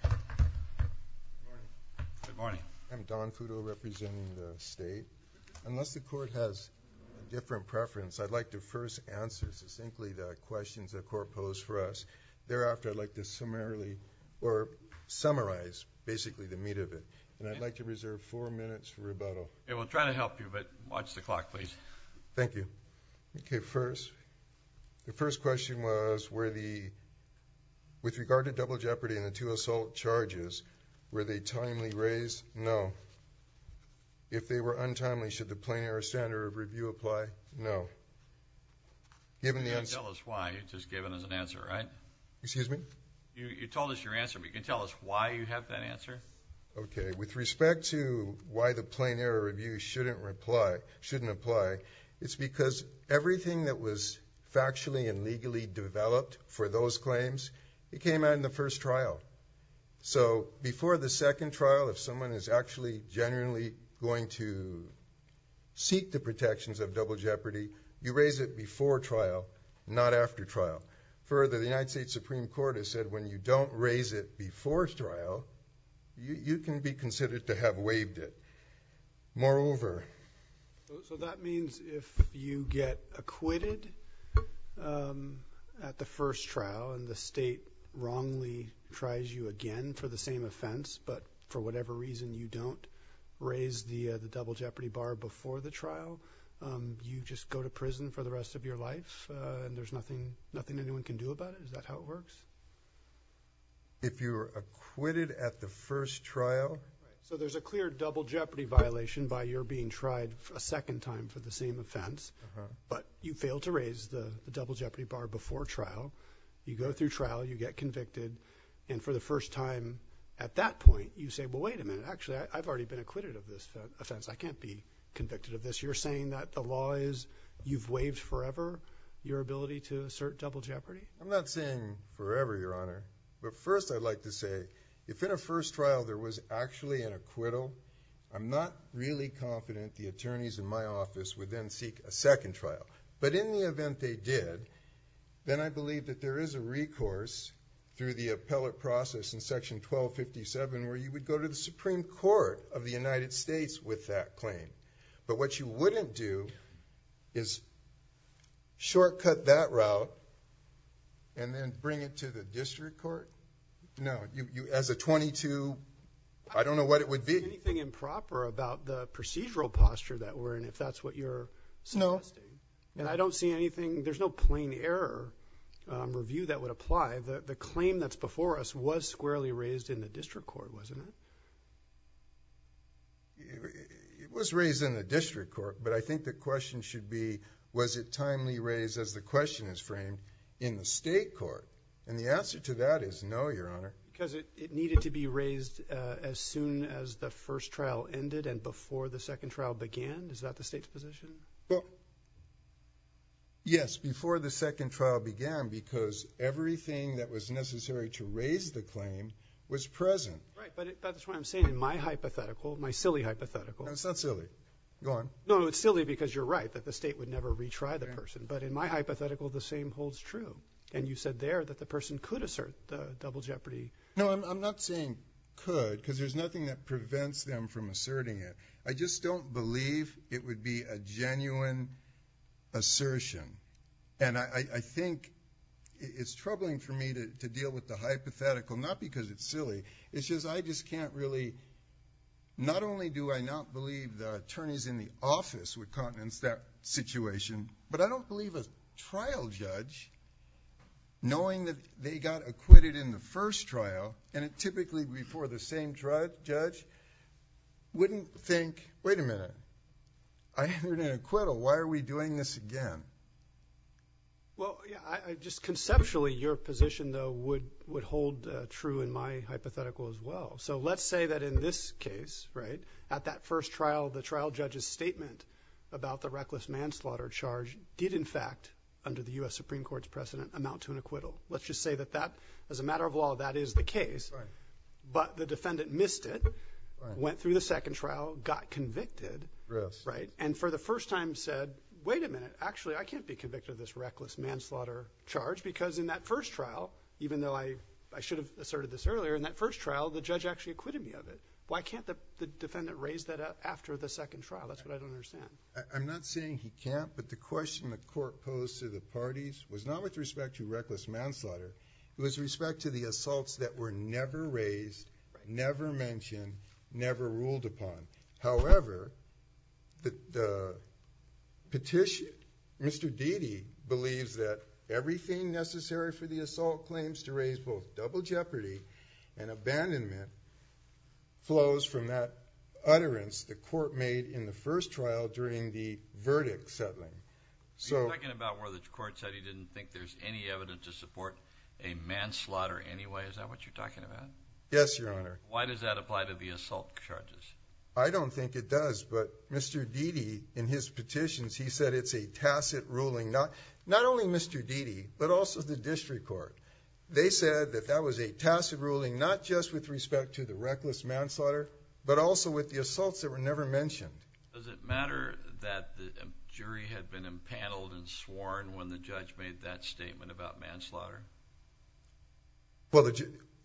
Good morning. I'm Don Futo representing the state. Unless the court has a different preference, I'd like to first answer succinctly the questions the court posed for us. Thereafter, I'd like to summarily, or summarize basically the meat of it. And I'd like to reserve four minutes for rebuttal. We'll try to help you, but watch the clock please. Thank you. Okay, first, the first question was where the, with regard to double jeopardy and the two assault charges, were they timely raised? No. If they were untimely, should the plain error standard of review apply? No. Given the answer... You can't tell us why. You just gave us an answer, right? Excuse me? You told us your answer, but you can tell us why you have that answer? Okay, with respect to why the plain error review shouldn't apply, it's because everything that was factually and legally developed for those claims, it came out in the first trial. So, before the second trial, if someone is actually genuinely going to seek the protections of double jeopardy, you raise it before trial, not after trial. Further, the United States Supreme Court has said when you don't raise it before trial, you can be considered to have waived it. Moreover... So that means if you get acquitted at the first trial and the state wrongly tries you again for the same offense, but for whatever reason you don't raise the double jeopardy bar before the trial, you just go to prison for the rest of your life and there's nothing anyone can do about it? Is that how it works? If you're acquitted at the first trial... A second time for the same offense, but you fail to raise the double jeopardy bar before trial, you go through trial, you get convicted, and for the first time at that point, you say, well, wait a minute. Actually, I've already been acquitted of this offense. I can't be convicted of this. You're saying that the law is... you've waived forever your ability to assert double jeopardy? I'm not saying forever, Your Honor. But first, I'd like to say, if in a first trial there was actually an acquittal, I'm not really confident the attorneys in my office would then seek a second trial. But in the event they did, then I believe that there is a recourse through the appellate process in Section 1257 where you would go to the Supreme Court of the United States with that claim. But what you wouldn't do is shortcut that route and then bring it to the district court? No. As a twenty-two, I don't know what it would be. Do you see anything improper about the procedural posture that we're in, if that's what you're suggesting? No. And I don't see anything... there's no plain error review that would apply. The claim that's before us was squarely raised in the district court, wasn't it? It was raised in the district court, but I think the question should be, was it timely raised as the question is framed in the state court? And the answer to that is no, Your Honor. Because it needed to be raised as soon as the first trial ended and before the second trial began? Is that the state's position? Well, yes, before the second trial began, because everything that was necessary to raise the claim was present. Right, but that's what I'm saying in my hypothetical, my silly hypothetical. No, it's not silly. Go on. No, it's silly because you're right that the state would never retry the person. But in my hypothetical, the same holds true. And you said there that the person could assert the double jeopardy. No, I'm not saying could, because there's nothing that prevents them from asserting it. I just don't believe it would be a genuine assertion. And I think it's troubling for me to deal with the hypothetical, not because it's silly, it's just I just can't really not only do I not believe the attorneys in the office would countenance that situation, but I don't believe a trial judge, knowing that they got acquitted in the first trial and it typically before the same judge, wouldn't think, wait a minute, I heard an acquittal, why are we doing this again? Well, yeah, just conceptually, your position, though, would hold true in my hypothetical as well. So let's say that in this case, right, at that first trial, the trial judge's statement about the reckless manslaughter charge did, in fact, under the US Supreme Court's precedent, amount to an acquittal. Let's just say that that as a matter of law, that is the case. But the defendant missed it, went through the second trial, got convicted. And for the first time said, wait a minute, actually, I can't be convicted of this reckless manslaughter charge because in that first trial, even though I should have asserted this earlier, in that first trial, the judge actually acquitted me of it. Why can't the defendant raise that up after the second trial? That's what I don't understand. I'm not saying he can't, but the question the court posed to the parties was not with respect to reckless manslaughter, it was respect to the assaults that were never raised, never mentioned, never ruled upon. However, the petition, Mr. Deedy believes that everything necessary for the assault claims to raise both double jeopardy and abandonment flows from that utterance the court made in the first trial during the verdict settling. Are you talking about where the court said he didn't think there's any evidence to support a manslaughter anyway? Is that what you're talking about? Yes, Your Honor. Why does that apply to the assault charges? I don't think it does, but Mr. Deedy, in his petitions, he said it's a tacit ruling. Not only Mr. Deedy, but also the district court. They said that that was a tacit ruling, not just with respect to the reckless manslaughter, but also with the assaults that were never mentioned. Does it matter that the jury had been impaneled and sworn when the judge made that statement about manslaughter? Well,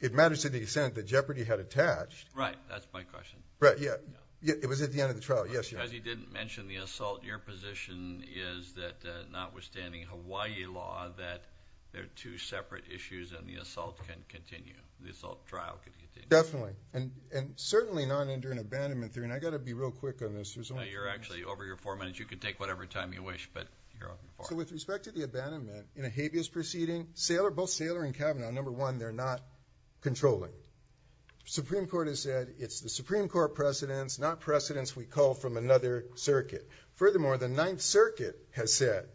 it matters to the extent that jeopardy had attached. Right, that's my question. Right, yeah. It was at the end of the trial. Yes, Your Honor. Is there any evidence that, notwithstanding Hawaii law, that there are two separate issues and the assault can continue, the assault trial can continue? Definitely, and certainly not under an abandonment. I've got to be real quick on this. No, you're actually, over your four minutes, you can take whatever time you wish, but you're off and far. So with respect to the abandonment, in a habeas proceeding, both Saylor and Kavanaugh, number one, they're not controlling. The Supreme Court has said it's the Supreme Court precedents, not precedents we call from another circuit. Furthermore, the Ninth Circuit has said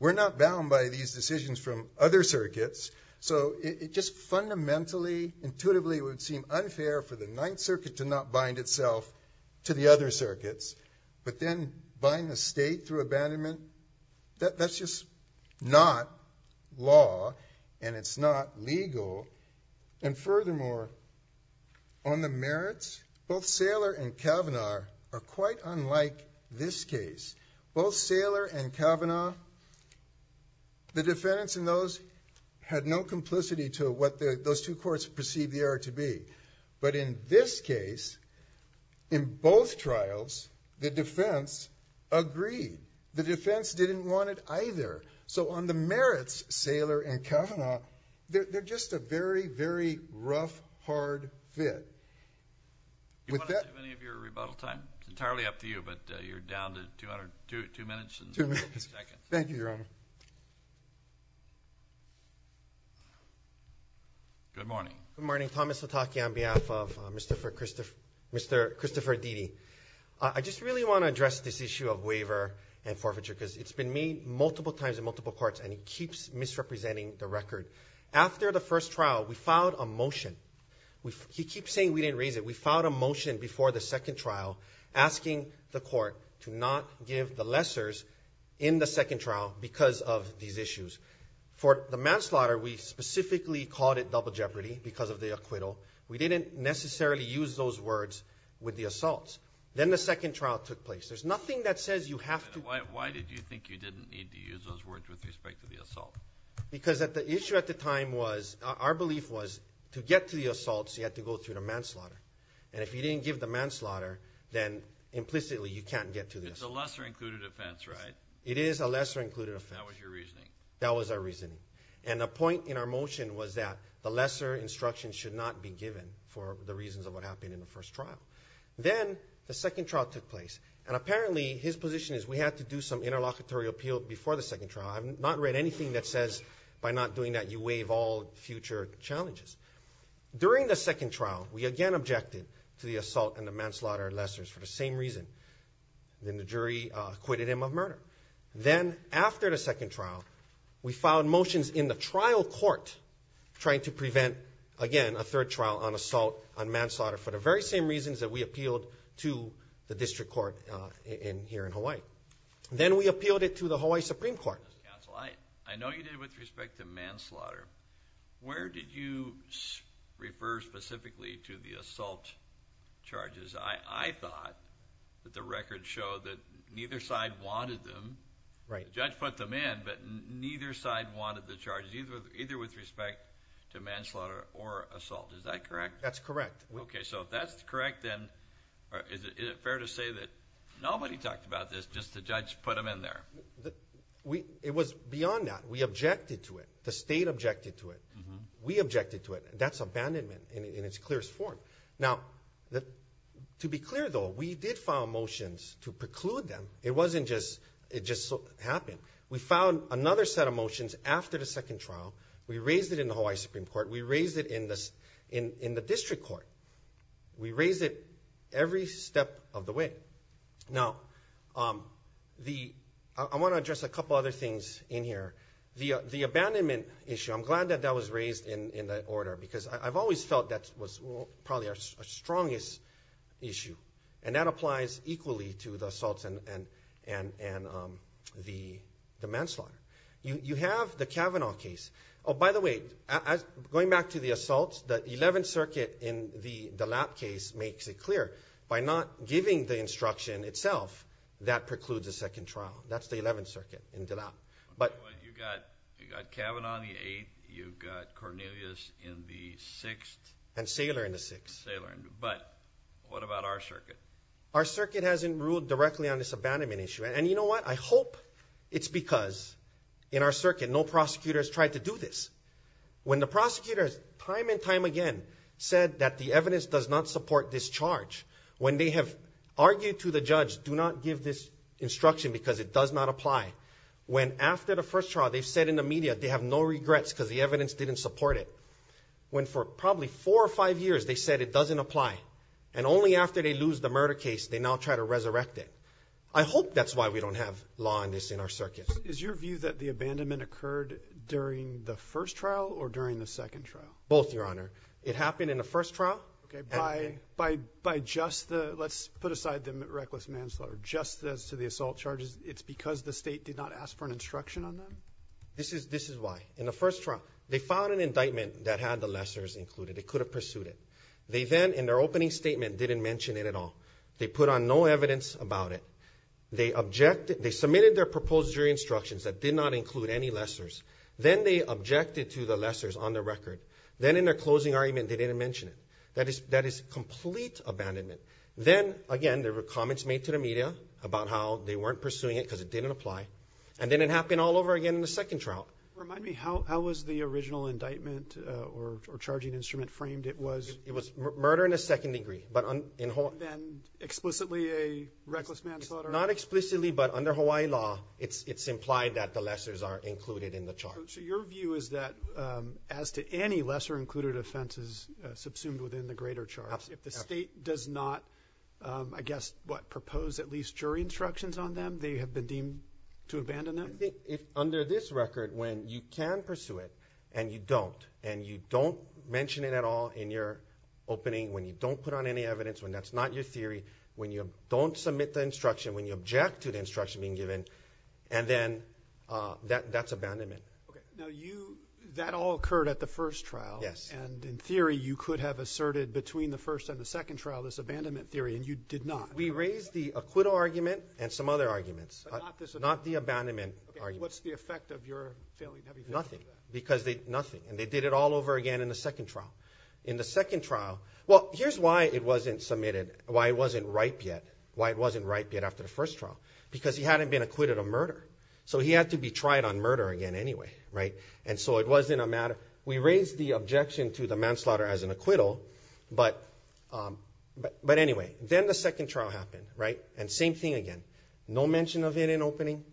we're not bound by these decisions from other circuits, so it just fundamentally, intuitively, would seem unfair for the Ninth Circuit to not bind itself to the other circuits, but then bind the state through abandonment, that's just not law, and it's not legal, and furthermore, on the merits, both Saylor and Kavanaugh are quite unlike this case. Both Saylor and Kavanaugh, the defendants in those had no complicity to what those two courts perceived the error to be, but in this case, in both trials, the defense agreed. The defense didn't want it to be a hard fit. Do you want to give any of your rebuttal time? It's entirely up to you, but you're down to two minutes. Two minutes. Second. Thank you, Your Honor. Good morning. Good morning. Thomas Sataki on behalf of Mr. Christopher Didi. I just really want to address this issue of waiver and forfeiture, because it's been made multiple times in multiple courts and it keeps misrepresenting the record. After the first trial, we filed a motion. He keeps saying we didn't raise it. We filed a motion before the second trial asking the court to not give the lessors in the second trial because of these issues. For the manslaughter, we specifically called it double jeopardy because of the acquittal. We didn't necessarily use those words with the assaults. Then the second trial took place. There's nothing that says you have to... Because the issue at the time was our belief was to get to the assaults, you had to go through the manslaughter. If you didn't give the manslaughter, then implicitly you can't get to this. It's a lesser included offense, right? It is a lesser included offense. That was your reasoning. That was our reasoning. The point in our motion was that the lesser instruction should not be given for the reasons of what happened in the first trial. Then the second trial took place. Apparently, his position is we have to do some interlocutory appeal before the second trial. I've not read anything that says by not doing that you waive all future challenges. During the second trial, we again objected to the assault and the manslaughter lessors for the same reason. Then the jury acquitted him of murder. Then after the second trial, we filed motions in the trial court trying to prevent, again, a third trial on assault and manslaughter for the very same reasons that we appealed to the district court here in Hawaii. Then we appealed it to the Hawaii Supreme Court. Counsel, I know you did it with respect to manslaughter. Where did you refer specifically to the assault charges? I thought that the record showed that neither side wanted them. The judge put them in, but neither side wanted the charges, either with respect to manslaughter or assault. Is that correct? That's correct. If that's correct, then is it fair to say that nobody talked about this, just the judge put them in there? It was beyond that. We objected to it. The state objected to it. We objected to it. That's abandonment in its clearest form. To be clear, though, we did file motions to preclude them. It just so happened. We filed another set of motions after the second trial. We raised it in the Hawaii Supreme Court. We raised it in the district court. We raised it every step of the way. I want to address a couple other things in here. The abandonment issue, I'm glad that that was raised in that order because I've always felt that was probably our strongest issue. That applies equally to the assaults and the manslaughter. You have the Kavanaugh case. Oh, by the way, going back to the assaults, the 11th Circuit in the Dillap case makes it clear, by not giving the instruction itself, that precludes the second trial. That's the 11th Circuit in Dillap. You've got Kavanaugh on the 8th. You've got Cornelius in the 6th. And Saylor in the 6th. But what about our circuit? Our circuit hasn't ruled directly on this abandonment issue. You know what? I hope it's because in our circuit, no prosecutor has tried to do this. When the prosecutors time and time again said that the evidence does not support this charge, when they have argued to the judge, do not give this instruction because it does not apply, when after the first trial they've said in the media they have no regrets because the evidence didn't support it, when for probably four or five years they said it doesn't apply, and only after they lose the murder case, they now try to resurrect it. I hope that's why we don't have law on this in our circuit. Is your view that the abandonment occurred during the first trial or during the second trial? Both, Your Honor. It happened in the first trial. By just the, let's put aside the reckless manslaughter, just as to the assault charges, it's because the state did not ask for an instruction on them? This is why. In the first trial, they filed an indictment that had the lessors included. They could have pursued it. They then, in their opening statement, didn't mention it at all. They put on no evidence about it. They submitted their proposed jury instructions that did not include any lessors. Then they objected to the lessors on the record. Then in their closing argument, they didn't mention it. That is complete abandonment. Then, again, there were comments made to the media about how they weren't pursuing it because it didn't apply. And then it happened all over again in the second trial. Remind me, how was the original indictment or charging instrument framed? It was murder in a second degree. Then explicitly a reckless manslaughter? Not explicitly, but under Hawaii law, it's implied that the lessors are included in the charge. So your view is that as to any lesser included offenses subsumed within the greater charge, if the state does not, I guess, what, propose at least jury instructions on them, they have been deemed to abandon them? Under this record, when you can pursue it and you don't, and you don't mention it at all in your opening, when you don't put on any evidence, when that's not your theory, when you don't submit the instruction, when you object to the instruction being given, and then that's abandonment. That all occurred at the first trial. Yes. And in theory, you could have asserted between the first and the second trial this abandonment theory, and you did not. We raised the acquittal argument and some other arguments, but not the abandonment argument. What's the effect of your failing to have anything to do with that? Nothing. Because they, nothing. And they did it all over again in the second trial. In the second trial, well, here's why it wasn't submitted, why it wasn't ripe yet, why it wasn't ripe yet after the first trial. Because he hadn't been acquitted of murder. So he had to be tried on murder again anyway, right? And so it wasn't a matter, we raised the objection to the manslaughter as an acquittal, but anyway. Then the second trial happened, right? And same thing again. No mention of it in opening.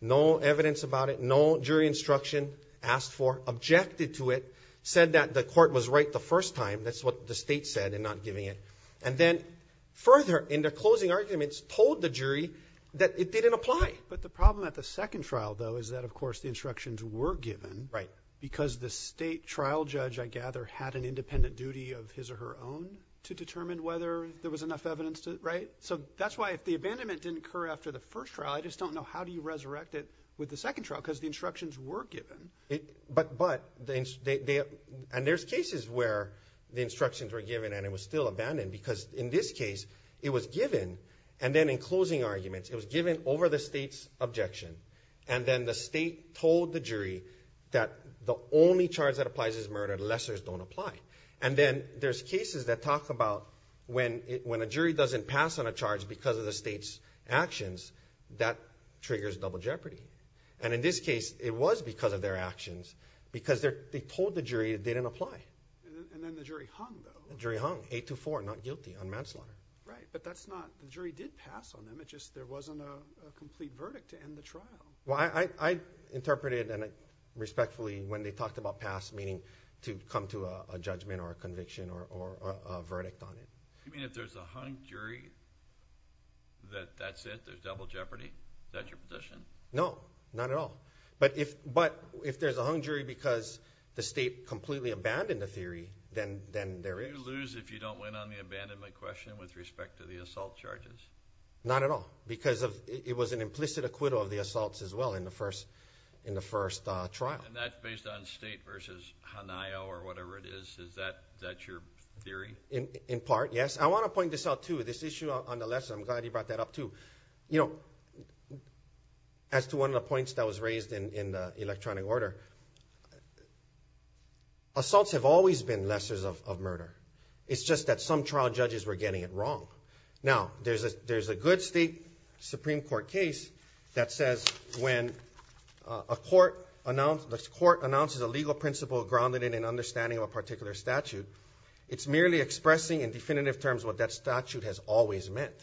No evidence about it. No jury instruction asked for, objected to it, said that the court was right the first time. That's what the state said in not giving it. And then further, in the closing arguments, told the jury that it didn't apply. But the problem at the second trial, though, is that, of course, the instructions were given. Right. Because the state trial judge, I gather, had an independent duty of his or her own to determine whether there was enough evidence, right? So that's why if the abandonment didn't occur after the first trial, I just don't know how do you resurrect it with the second trial, because the instructions were given. And there's cases where the instructions were given and it was still abandoned, because in this case, it was given. And then in closing arguments, it was given over the state's objection. And then the state told the jury that the only charge that applies is murder, the lessors don't apply. And then there's cases that talk about when a jury doesn't pass on a charge because of the state's actions, that triggers double jeopardy. And in this case, it was because of their actions, because they told the jury they didn't apply. And then the jury hung, though. The jury hung. Eight to four. Not guilty. Unmanslaughter. Right. But that's not... the jury did pass on them. It just... there wasn't a complete verdict to end the trial. Well, I interpreted, and I respectfully, when they talked about pass, meaning to come to a judgment or a conviction or a verdict on it. You mean if there's a hung jury, that that's it? There's double jeopardy? Is that your position? No. Not at all. But if there's a hung jury because the state completely abandoned the theory, then there is. Do you lose if you don't win on the abandonment question with respect to the assault charges? Not at all. Because it was an implicit acquittal of the assaults, as well, in the first trial. And that's based on state versus HANAYO or whatever it is, is that your theory? In part, yes. I want to point this out, too. This issue on the lesser, I'm glad you brought that up, too. As to one of the points that was raised in the electronic order, assaults have always been lessors of murder. It's just that some trial judges were getting it wrong. Now, there's a good state Supreme Court case that says when a court announces a legal principle grounded in an understanding of a particular statute, it's merely expressing in definitive terms what that statute has always meant.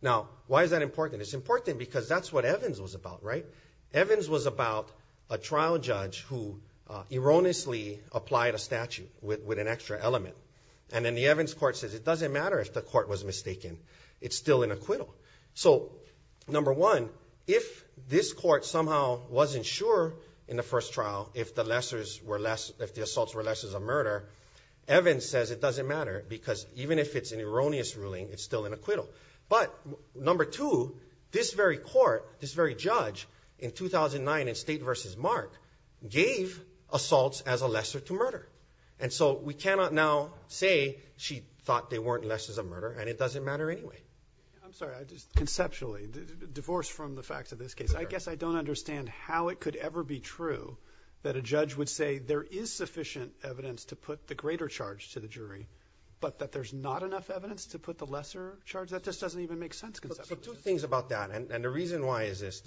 Now, why is that important? It's important because that's what Evans was about, right? Evans was about a trial judge who erroneously applied a statute with an extra element. And then the Evans court says it doesn't matter if the court was mistaken. It's still an acquittal. So number one, if this court somehow wasn't sure in the first trial if the assaults were lessors of murder, Evans says it doesn't matter because even if it's an erroneous ruling, it's still an acquittal. But number two, this very court, this very judge in 2009 in state versus Mark gave assaults as a lesser to murder. And so we cannot now say she thought they weren't lessors of murder, and it doesn't matter anyway. I'm sorry. I just, conceptually, divorce from the facts of this case. I guess I don't understand how it could ever be true that a judge would say there is sufficient evidence to put the greater charge to the jury, but that there's not enough evidence to put the lesser charge? That just doesn't even make sense conceptually. But two things about that, and the reason why is this.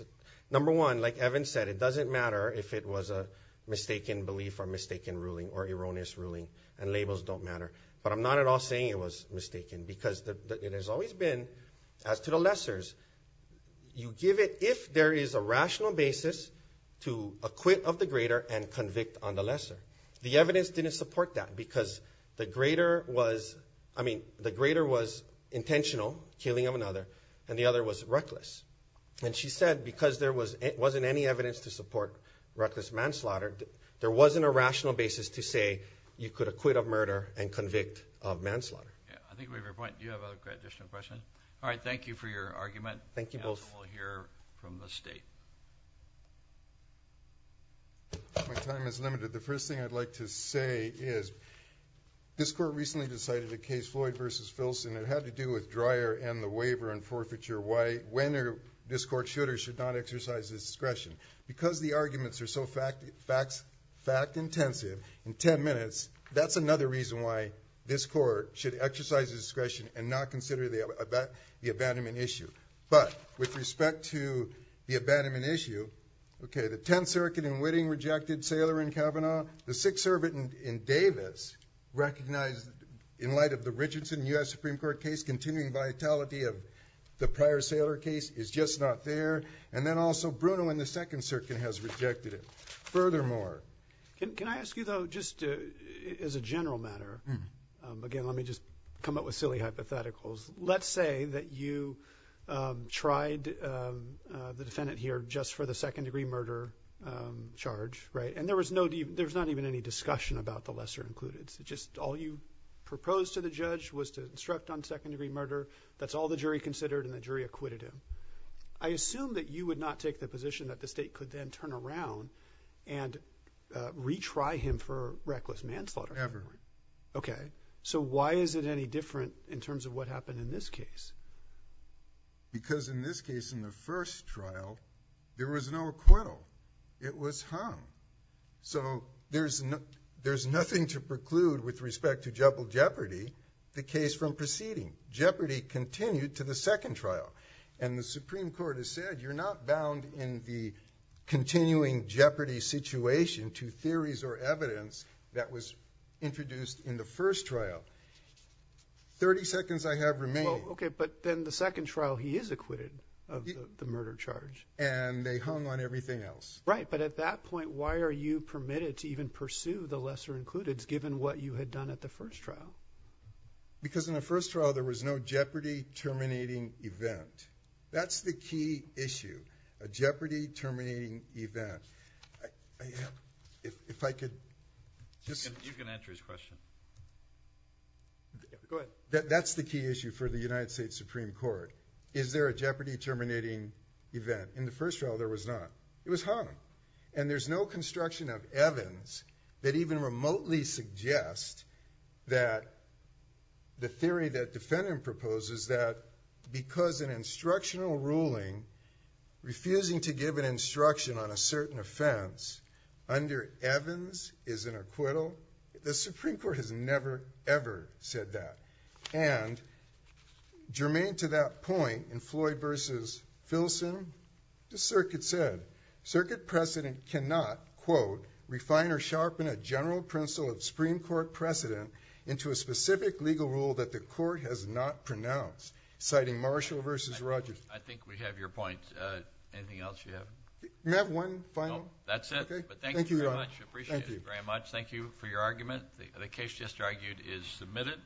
Number one, like Evans said, it doesn't matter if it was a mistaken belief or mistaken ruling or erroneous ruling, and labels don't matter. But I'm not at all saying it was mistaken because it has always been, as to the lessors, you give it if there is a rational basis to acquit of the greater and convict on the lesser. The evidence didn't support that because the greater was, I mean, the greater was intentional killing of another, and the other was reckless. And she said because there wasn't any evidence to support reckless manslaughter, there wasn't a rational basis to say you could acquit of murder and convict of manslaughter. Yeah, I think we have your point. Do you have a question? All right. Thank you for your argument. Thank you both. We'll hear from the state. My time is limited. The first thing I'd like to say is, this court recently decided a case, Floyd v. Filson, it had to do with Dreyer and the waiver and forfeiture, when this court should or should not exercise discretion. Because the arguments are so fact-intensive, in ten minutes, that's another reason why this court should exercise discretion and not consider the abandonment issue. But with respect to the abandonment issue, okay, the Tenth Circuit in Whitting rejected Saylor and Kavanaugh. The Sixth Circuit in Davis recognized in light of the Richardson U.S. Supreme Court case continuing vitality of the prior Saylor case is just not there. And then also, Bruno in the Second Circuit has rejected it. Furthermore... Can I ask you, though, just as a general matter, again, let me just come up with silly hypotheticals. Let's say that you tried the defendant here just for the second-degree murder charge, right? And there was no... there's not even any discussion about the lesser-included. All you proposed to the judge was to instruct on second-degree murder. That's all the jury considered and the jury acquitted him. I assume that you would not take the position that the State could then turn around and retry him for reckless manslaughter. Ever. Okay. So why is it any different in terms of what happened in this case? Because in this case, in the first trial, there was no acquittal. It was hung. So there's nothing to preclude with respect to Jeopardy, the case from proceeding. Jeopardy continued to the second trial. And the Supreme Court has said, you're not bound in the continuing Jeopardy situation to theories or evidence that was introduced in the first trial. Thirty seconds I have remain. Okay. But then the second trial, he is acquitted of the murder charge. And they hung on everything else. Right. But at that point, why are you permitted to even pursue the lesser-included, given what you had done at the first trial? Because in the first trial, there was no Jeopardy terminating event. That's the key issue. A Jeopardy terminating event. If I could. You can answer his question. That's the key issue for the United States Supreme Court. Is there a Jeopardy terminating event? In the first trial, there was not. It was hung. And there's no construction of Evans that even remotely suggests that the theory that defendant proposes that because an instructional ruling, refusing to give an instruction on a certain offense, under Evans is an acquittal. The Supreme Court has never, ever said that. And germane to that point, in Floyd versus Filson, the circuit said. Circuit precedent cannot, quote, refine or sharpen a general principle of Supreme Court precedent into a specific legal rule that the court has not pronounced, citing Marshall versus Rogers. I think we have your point. Anything else you have? Can I have one final? No. That's it. Thank you very much. I appreciate it. Thank you very much. Thank you for your argument. The case just argued is submitted.